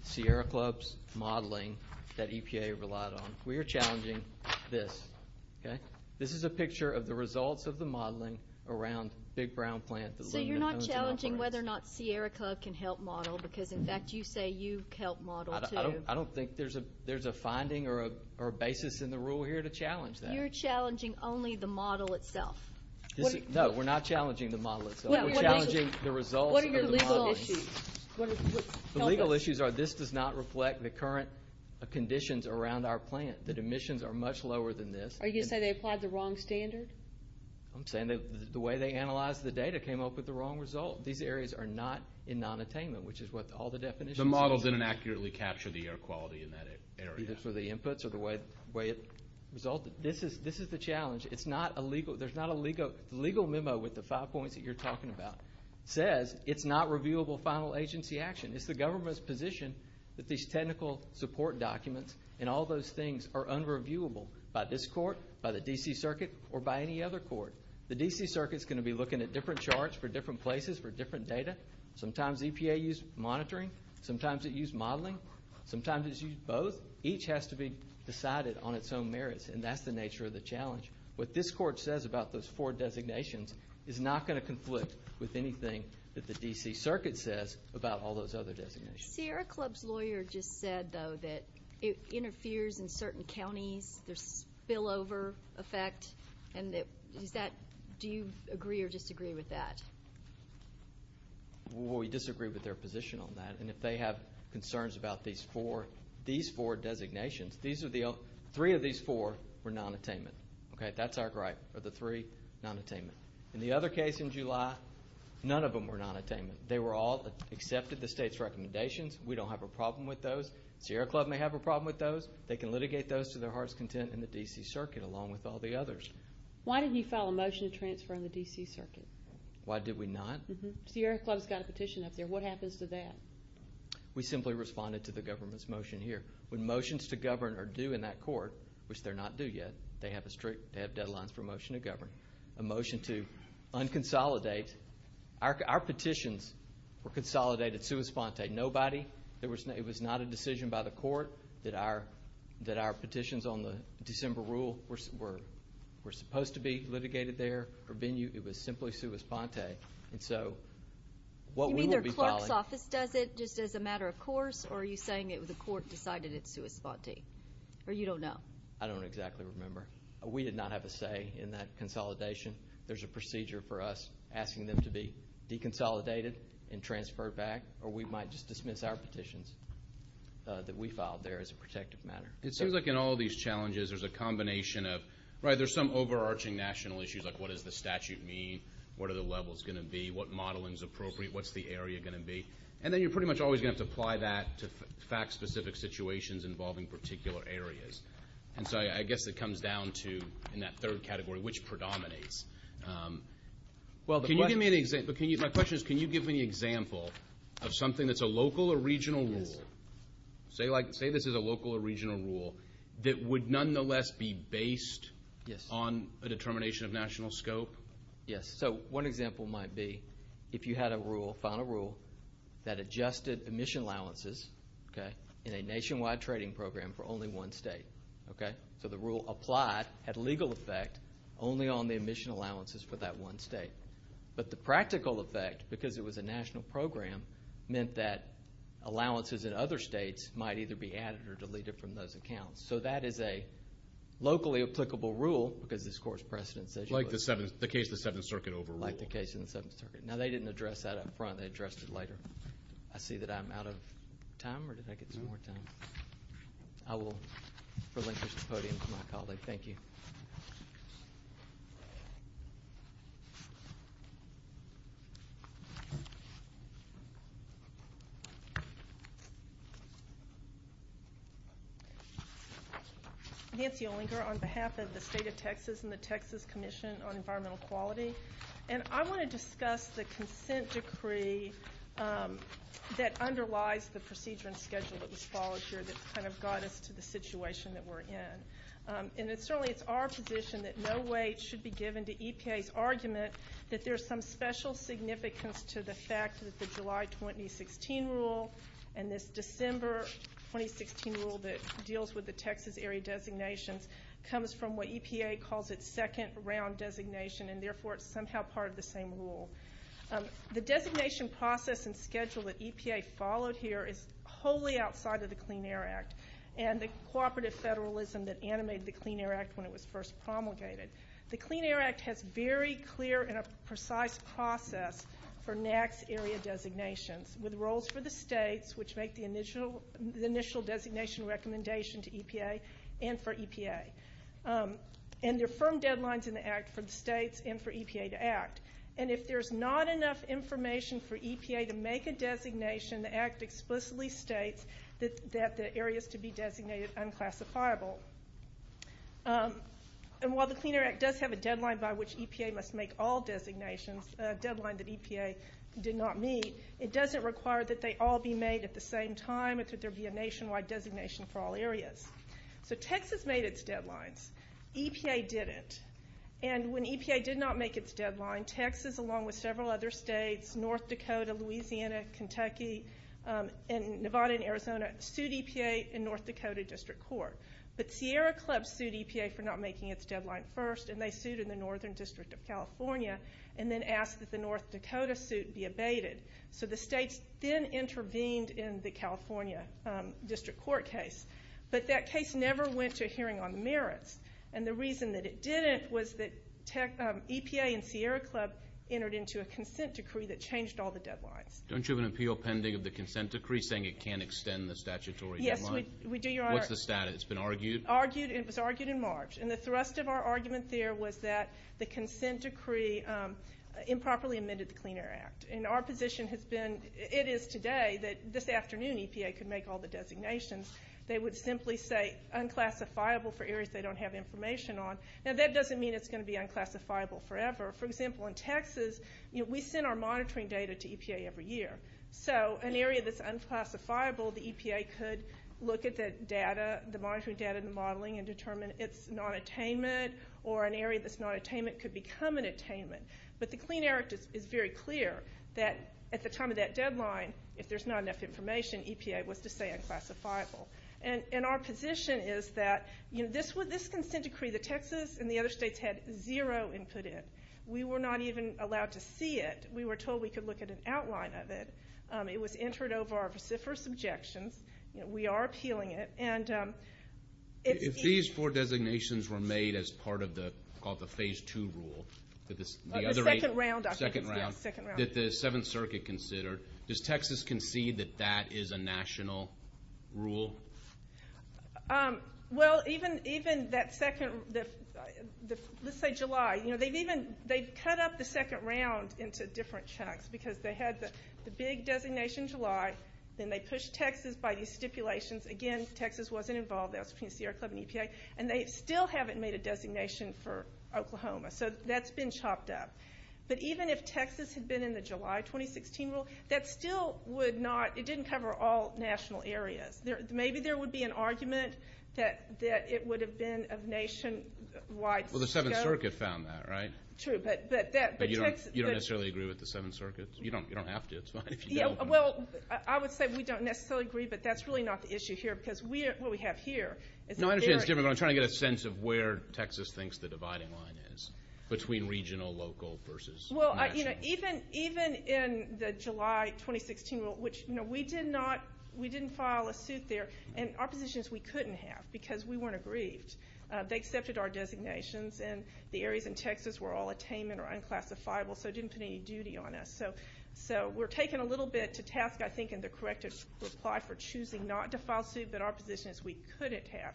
Sierra Club's modeling that EPA relied on. We are challenging this. This is a picture of the results of the modeling around Big Brown Plant. So you're not challenging whether or not Sierra Club can help model, because, in fact, you say you can help model, too. I don't think there's a finding or a basis in the rule here to challenge that. You're challenging only the model itself. No, we're not challenging the model itself. We're challenging the results of the modeling. What are your legal issues? The legal issues are this does not reflect the current conditions around our plant, that emissions are much lower than this. Are you going to say they applied the wrong standard? I'm saying the way they analyzed the data came up with the wrong result. These areas are not in non-attainment, which is what all the definitions are. The models didn't accurately capture the air quality in that area. Either for the inputs or the way it resulted. This is the challenge. It's not a legal. There's not a legal memo with the five points that you're talking about. It says it's not reviewable final agency action. It's the government's position that these technical support documents and all those things are unreviewable by this court, by the D.C. Circuit, or by any other court. The D.C. Circuit is going to be looking at different charts for different places for different data. Sometimes EPA used monitoring. Sometimes it used modeling. Sometimes it used both. Each has to be decided on its own merits, and that's the nature of the challenge. What this court says about those four designations is not going to conflict with anything that the D.C. Circuit says about all those other designations. Sierra Club's lawyer just said, though, that it interferes in certain counties. There's spillover effect. And is that do you agree or disagree with that? We disagree with their position on that. And if they have concerns about these four designations, three of these four were nonattainment. That's our gripe, are the three nonattainment. In the other case in July, none of them were nonattainment. They were all accepted, the state's recommendations. We don't have a problem with those. Sierra Club may have a problem with those. They can litigate those to their heart's content in the D.C. Circuit along with all the others. Why did you file a motion to transfer on the D.C. Circuit? Why did we not? Sierra Club's got a petition up there. What happens to that? We simply responded to the government's motion here. When motions to govern are due in that court, which they're not due yet, they have a strict deadline for a motion to govern. A motion to unconsolidate. Our petitions were consolidated sua sponte. Nobody, it was not a decision by the court that our petitions on the December rule were supposed to be litigated there. It was simply sua sponte. And so what we will be following. So the appeals office does it just as a matter of course, or are you saying the court decided it's sua sponte? Or you don't know? I don't exactly remember. We did not have a say in that consolidation. There's a procedure for us asking them to be deconsolidated and transferred back, or we might just dismiss our petitions that we filed there as a protective matter. It seems like in all these challenges there's a combination of, right, there's some overarching national issues like what does the statute mean, what are the levels going to be, what modeling is appropriate, what's the area going to be. And then you're pretty much always going to have to apply that to fact-specific situations involving particular areas. And so I guess it comes down to, in that third category, which predominates. Well, can you give me an example? My question is, can you give me an example of something that's a local or regional rule? Say this is a local or regional rule that would nonetheless be based on a determination of national scope. Yes. So one example might be if you had a rule, a final rule, that adjusted emission allowances, okay, in a nationwide trading program for only one state, okay. So the rule applied, had a legal effect only on the emission allowances for that one state. But the practical effect, because it was a national program, meant that allowances in other states might either be added or deleted from those accounts. So that is a locally applicable rule because this court's precedent says you would. Like the case in the Seventh Circuit overruled. Like the case in the Seventh Circuit. Now, they didn't address that up front. They addressed it later. I see that I'm out of time, or did I get some more time? I will relinquish the podium to my colleague. Thank you. Nancy Olinger on behalf of the State of Texas and the Texas Commission on Environmental Quality. And I want to discuss the consent decree that underlies the procedure and schedule that was followed here that kind of got us to the situation that we're in. And certainly it's our position that no weight should be given to EPA's argument that there's some special significance to the fact that the July 2016 rule and this December 2016 rule that deals with the Texas area designations comes from what EPA calls its second round designation, and therefore it's somehow part of the same rule. The designation process and schedule that EPA followed here is wholly outside of the Clean Air Act. And the cooperative federalism that animated the Clean Air Act when it was first promulgated. The Clean Air Act has very clear and a precise process for NAAQS area designations with roles for the states, which make the initial designation recommendation to EPA and for EPA. And there are firm deadlines in the act for the states and for EPA to act. And if there's not enough information for EPA to make a designation, the act explicitly states that the areas to be designated are unclassifiable. And while the Clean Air Act does have a deadline by which EPA must make all designations, a deadline that EPA did not meet, it doesn't require that they all be made at the same time. It could be a nationwide designation for all areas. So Texas made its deadlines. EPA didn't. And when EPA did not make its deadline, Texas along with several other states, North Dakota, Louisiana, Kentucky, and Nevada and Arizona sued EPA in North Dakota District Court. But Sierra Club sued EPA for not making its deadline first, and they sued in the Northern District of California and then asked that the North Dakota suit be abated. So the states then intervened in the California District Court case. But that case never went to a hearing on merits. And the reason that it didn't was that EPA and Sierra Club entered into a consent decree that changed all the deadlines. Don't you have an appeal pending of the consent decree saying it can't extend the statutory deadline? Yes, we do, Your Honor. What's the status? It's been argued? It was argued in March. And the thrust of our argument there was that the consent decree improperly amended the Clean Air Act. And our position has been, it is today, that this afternoon EPA could make all the designations. They would simply say unclassifiable for areas they don't have information on. Now, that doesn't mean it's going to be unclassifiable forever. For example, in Texas, you know, we send our monitoring data to EPA every year. So an area that's unclassifiable, the EPA could look at the data, the monitoring data and the modeling and determine it's not attainment, or an area that's not attainment could become an attainment. But the Clean Air Act is very clear that at the time of that deadline, if there's not enough information, EPA was to say unclassifiable. And our position is that, you know, this consent decree, the Texas and the other states had zero input in it. We were not even allowed to see it. We were told we could look at an outline of it. It was entered over our vociferous objections. You know, we are appealing it. And it's easy. If these four designations were made as part of the phase two rule, the other eight. The second round, I think. Second round. Second round. That the Seventh Circuit considered. Does Texas concede that that is a national rule? Well, even that second, let's say July. You know, they've cut up the second round into different chunks because they had the big designation July. Then they pushed Texas by these stipulations. Again, Texas wasn't involved. That was between Sierra Club and EPA. And they still haven't made a designation for Oklahoma. So that's been chopped up. But even if Texas had been in the July 2016 rule, that still would not, it didn't cover all national areas. Maybe there would be an argument that it would have been of nationwide scope. Well, the Seventh Circuit found that, right? True. But you don't necessarily agree with the Seventh Circuit? You don't have to. It's fine if you don't. Well, I would say we don't necessarily agree, but that's really not the issue here. Because what we have here is a very. I'm trying to get a sense of where Texas thinks the dividing line is between regional, local versus national. Well, you know, even in the July 2016 rule, which, you know, we did not, we didn't file a suit there. And our positions we couldn't have because we weren't aggrieved. They accepted our designations, and the areas in Texas were all attainment or unclassifiable, so it didn't put any duty on us. So we're taken a little bit to task, I think, in the corrective reply for choosing not to file a suit. But our position is we couldn't have.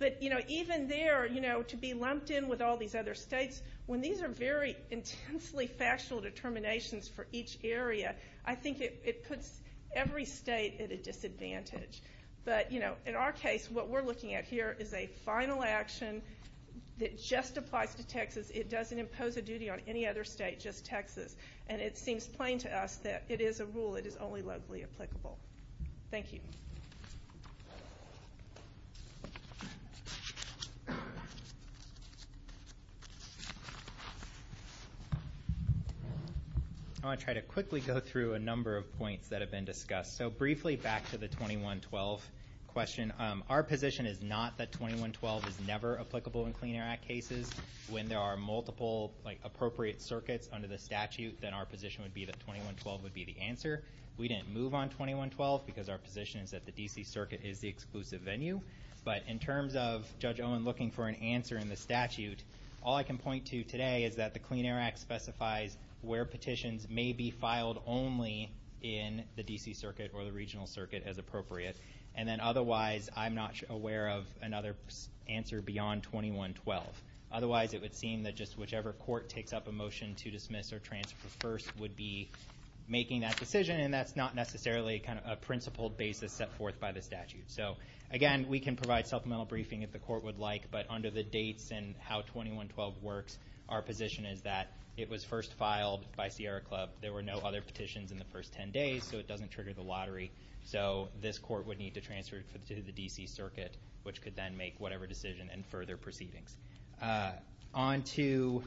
But, you know, even there, you know, to be lumped in with all these other states, when these are very intensely factual determinations for each area, I think it puts every state at a disadvantage. But, you know, in our case, what we're looking at here is a final action that just applies to Texas. It doesn't impose a duty on any other state, just Texas. And it seems plain to us that it is a rule that is only locally applicable. Thank you. I want to try to quickly go through a number of points that have been discussed. So briefly back to the 2112 question. Our position is not that 2112 is never applicable in Clean Air Act cases. When there are multiple, like, appropriate circuits under the statute, then our position would be that 2112 would be the answer. We didn't move on 2112 because our position is that the D.C. circuit is the exclusive venue. But in terms of Judge Owen looking for an answer in the statute, all I can point to today is that the Clean Air Act specifies where petitions may be filed only in the D.C. circuit or the regional circuit as appropriate. And then otherwise, I'm not aware of another answer beyond 2112. Otherwise, it would seem that just whichever court takes up a motion to dismiss or transfer first would be making that decision. And that's not necessarily kind of a principled basis set forth by the statute. So again, we can provide supplemental briefing if the court would like. But under the dates and how 2112 works, our position is that it was first filed by Sierra Club. There were no other petitions in the first 10 days, so it doesn't trigger the lottery. So this court would need to transfer to the D.C. circuit, which could then make whatever decision and further proceedings. On to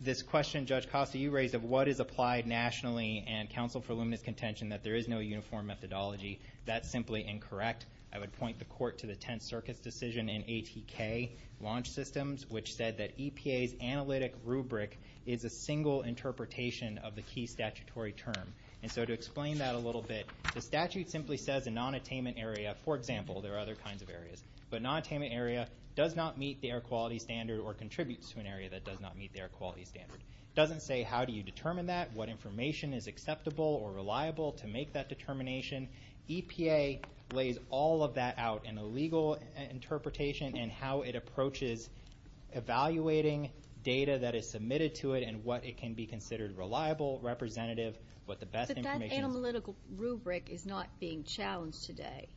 this question Judge Costa, you raised of what is applied nationally and counsel for luminous contention that there is no uniform methodology. That's simply incorrect. I would point the court to the Tenth Circuit's decision in ATK launch systems, which said that EPA's analytic rubric is a single interpretation of the key statutory term. And so to explain that a little bit, the statute simply says a nonattainment area, for example, there are other kinds of areas, but a nonattainment area does not meet the air quality standard or contributes to an area that does not meet the air quality standard. It doesn't say how do you determine that, what information is acceptable or reliable to make that determination. EPA lays all of that out in a legal interpretation and how it approaches evaluating data that is submitted to it and what it can be considered reliable, representative, what the best information is. But that analytical rubric is not being challenged today.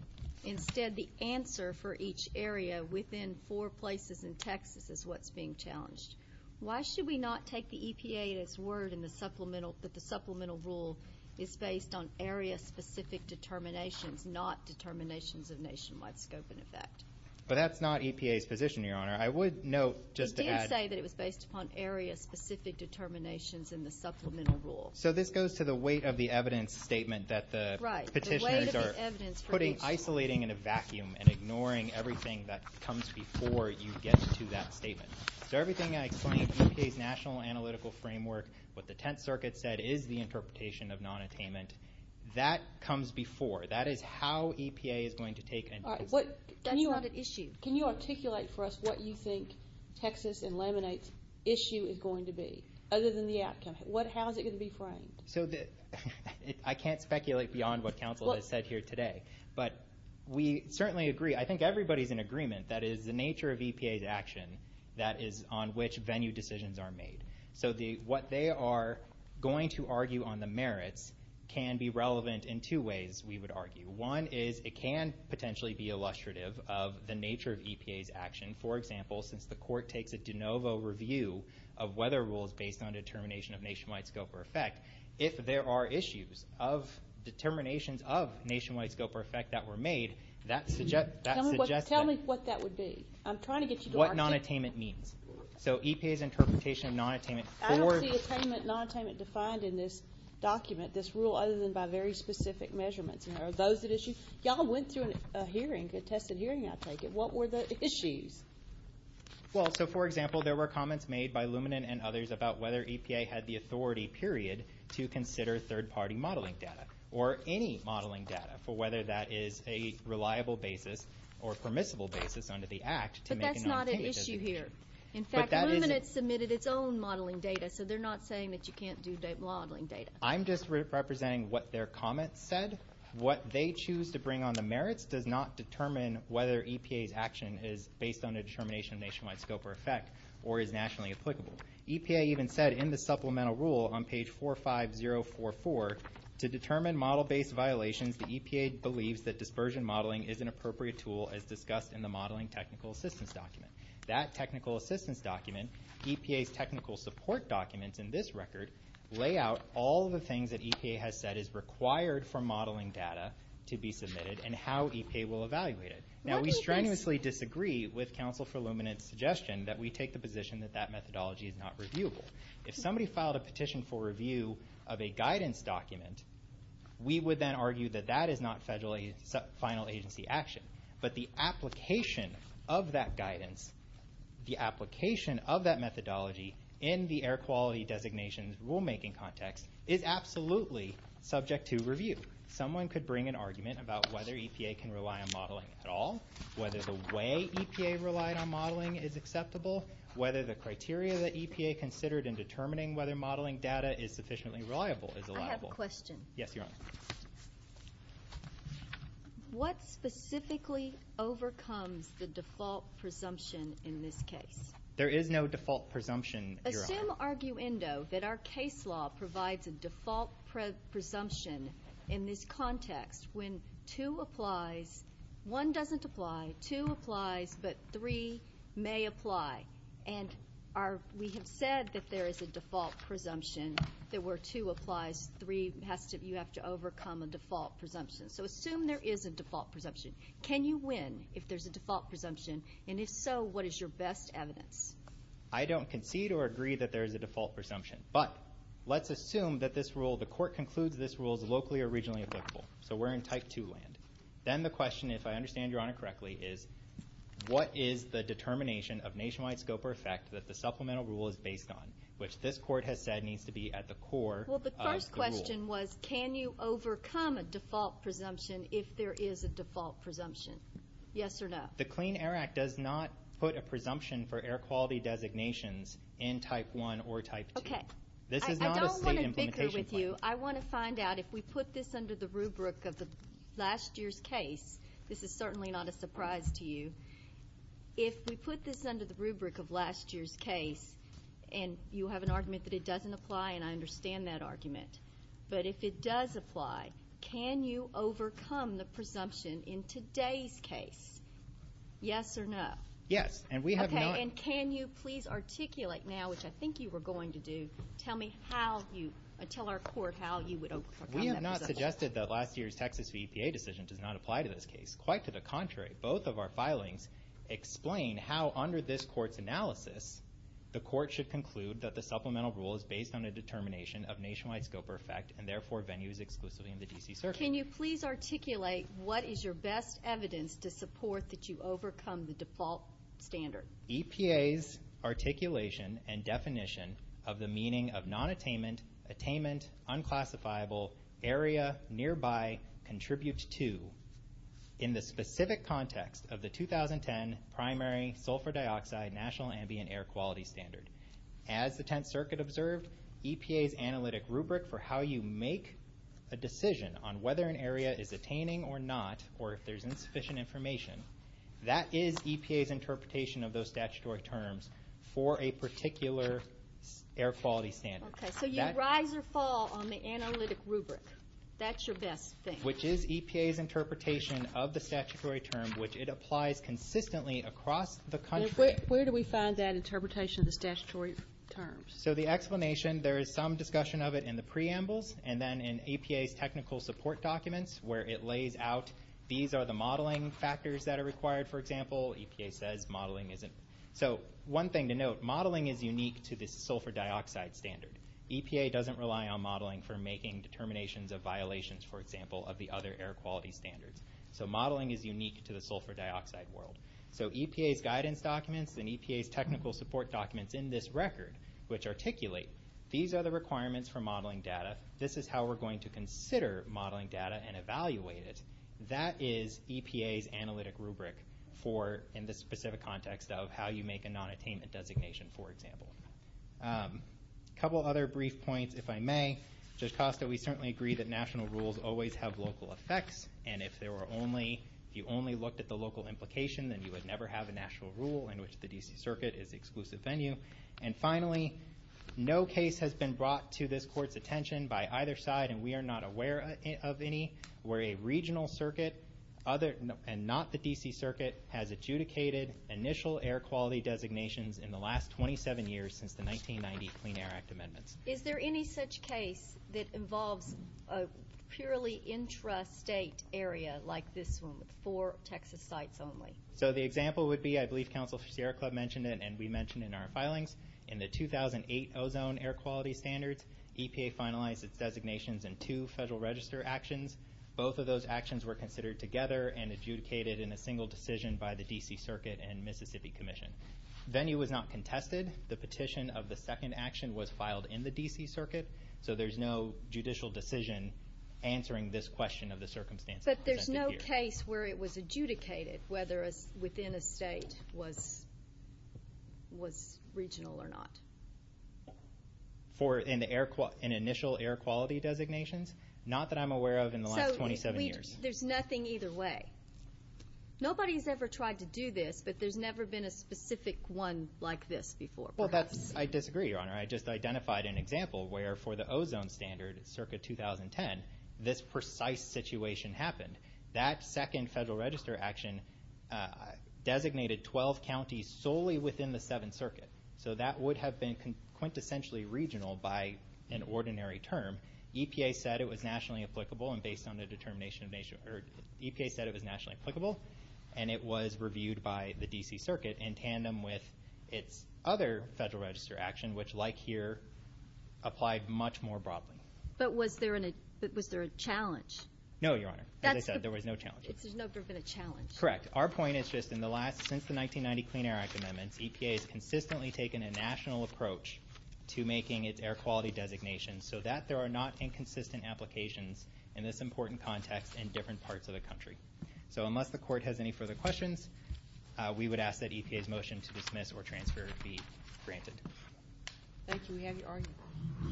Instead, the answer for each area within four places in Texas is what's being challenged. Why should we not take the EPA at its word that the supplemental rule is based on area-specific determinations, not determinations of nationwide scope and effect? But that's not EPA's position, Your Honor. He did say that it was based upon area-specific determinations in the supplemental rule. So this goes to the weight of the evidence statement that the petitioners are isolating in a vacuum and ignoring everything that comes before you get to that statement. So everything I explained, EPA's national analytical framework, what the Tenth Circuit said is the interpretation of nonattainment, that comes before. That is how EPA is going to take it. That's not an issue. Can you articulate for us what you think Texas and Lemonade's issue is going to be, other than the outcome? How is it going to be framed? I can't speculate beyond what counsel has said here today. But we certainly agree. I think everybody is in agreement that it is the nature of EPA's action that is on which venue decisions are made. So what they are going to argue on the merits can be relevant in two ways, we would argue. One is it can potentially be illustrative of the nature of EPA's action. For example, since the court takes a de novo review of weather rules based on determination of nationwide scope or effect, if there are issues of determinations of nationwide scope or effect that were made, that suggests that. Tell me what that would be. I'm trying to get you to articulate. What nonattainment means. So EPA's interpretation of nonattainment for... I don't see attainment, nonattainment defined in this document, this rule, other than by very specific measurements. Are those at issue? Y'all went through a hearing, a tested hearing, I take it. What were the issues? Well, so, for example, there were comments made by Luminant and others about whether EPA had the authority, period, to consider third-party modeling data or any modeling data for whether that is a reliable basis or permissible basis under the Act. But that's not at issue here. In fact, Luminant submitted its own modeling data, so they're not saying that you can't do modeling data. I'm just representing what their comments said. What they choose to bring on the merits does not determine whether EPA's action is based on a determination of nationwide scope or effect or is nationally applicable. EPA even said in the supplemental rule on page 45044, to determine model-based violations, the EPA believes that dispersion modeling is an appropriate tool as discussed in the modeling technical assistance document. That technical assistance document, EPA's technical support documents in this record, lay out all the things that EPA has said is required for modeling data to be submitted and how EPA will evaluate it. Now, we strenuously disagree with Counsel for Luminant's suggestion that we take the position that that methodology is not reviewable. If somebody filed a petition for review of a guidance document, we would then argue that that is not federal final agency action. But the application of that guidance, the application of that methodology in the air quality designations rulemaking context, is absolutely subject to review. Someone could bring an argument about whether EPA can rely on modeling at all, whether the way EPA relied on modeling is acceptable, whether the criteria that EPA considered in determining whether modeling data is sufficiently reliable is allowable. Yes, Your Honor. What specifically overcomes the default presumption in this case? There is no default presumption, Your Honor. Assume, arguendo, that our case law provides a default presumption in this context when two applies, one doesn't apply, two applies, but three may apply. And we have said that there is a default presumption that where two applies, three has to, you have to overcome a default presumption. So assume there is a default presumption. Can you win if there's a default presumption? And if so, what is your best evidence? I don't concede or agree that there is a default presumption. But let's assume that this rule, the court concludes this rule is locally or regionally applicable. So we're in Type 2 land. Then the question, if I understand Your Honor correctly, is what is the determination of nationwide scope or effect that the supplemental rule is based on, which this court has said needs to be at the core of the rule? Well, the first question was can you overcome a default presumption if there is a default presumption? Yes or no? The Clean Air Act does not put a presumption for air quality designations in Type 1 or Type 2. Okay. I don't want to bicker with you. I want to find out if we put this under the rubric of last year's case. This is certainly not a surprise to you. If we put this under the rubric of last year's case, and you have an argument that it doesn't apply, and I understand that argument, but if it does apply, can you overcome the presumption in today's case? Yes or no? Yes, and we have not. Okay, and can you please articulate now, which I think you were going to do, tell our court how you would overcome that presumption? We have not suggested that last year's Texas EPA decision does not apply to this case. Quite to the contrary. Both of our filings explain how, under this court's analysis, the court should conclude that the supplemental rule is based on a determination of nationwide scope or effect and therefore venues exclusively in the D.C. Circuit. Can you please articulate what is your best evidence to support that you overcome the default standard? EPA's articulation and definition of the meaning of non-attainment, attainment, unclassifiable, area, nearby, contribute to, in the specific context of the 2010 Primary Sulfur Dioxide National Ambient Air Quality Standard. As the Tenth Circuit observed, EPA's analytic rubric for how you make a decision on whether an area is attaining or not, or if there's insufficient information, that is EPA's interpretation of those statutory terms for a particular air quality standard. Okay, so you rise or fall on the analytic rubric. That's your best thing. Which is EPA's interpretation of the statutory term, which it applies consistently across the country. Where do we find that interpretation of the statutory terms? So the explanation, there is some discussion of it in the preambles and then in EPA's technical support documents where it lays out these are the modeling factors that are required, for example. EPA says modeling isn't. So one thing to note, modeling is unique to the sulfur dioxide standard. EPA doesn't rely on modeling for making determinations of violations, for example, of the other air quality standards. So modeling is unique to the sulfur dioxide world. So EPA's guidance documents and EPA's technical support documents in this record, which articulate, these are the requirements for modeling data. This is how we're going to consider modeling data and evaluate it. That is EPA's analytic rubric for in the specific context of how you make a non-attainment designation, for example. A couple other brief points, if I may. Judge Costa, we certainly agree that national rules always have local effects. And if you only looked at the local implication, then you would never have a national rule in which the D.C. Circuit is the exclusive venue. And finally, no case has been brought to this court's attention by either side, and we are not aware of any, where a regional circuit and not the D.C. Circuit has adjudicated initial air quality designations in the last 27 years since the 1990 Clean Air Act amendments. Is there any such case that involves a purely intrastate area like this one with four Texas sites only? So the example would be, I believe Counsel Sierra Club mentioned it and we mentioned in our filings, in the 2008 ozone air quality standards, EPA finalized its designations in two Federal Register actions. Both of those actions were considered together and adjudicated in a single decision by the D.C. Circuit and Mississippi Commission. Venue was not contested. The petition of the second action was filed in the D.C. Circuit, so there's no judicial decision answering this question of the circumstances presented here. Was there a case where it was adjudicated, whether within a state, was regional or not? For an initial air quality designations? Not that I'm aware of in the last 27 years. So there's nothing either way. Nobody's ever tried to do this, but there's never been a specific one like this before, perhaps. Well, I disagree, Your Honor. I just identified an example where, for the ozone standard, circa 2010, this precise situation happened. That second Federal Register action designated 12 counties solely within the Seventh Circuit. So that would have been quintessentially regional by an ordinary term. EPA said it was nationally applicable, and it was reviewed by the D.C. Circuit in tandem with its other Federal Register action, which, like here, applied much more broadly. But was there a challenge? No, Your Honor. As I said, there was no challenge. There's never been a challenge. Correct. Our point is just, since the 1990 Clean Air Act amendments, EPA has consistently taken a national approach to making its air quality designations So unless the Court has any further questions, we would ask that EPA's motion to dismiss or transfer be granted. Thank you. We have your argument.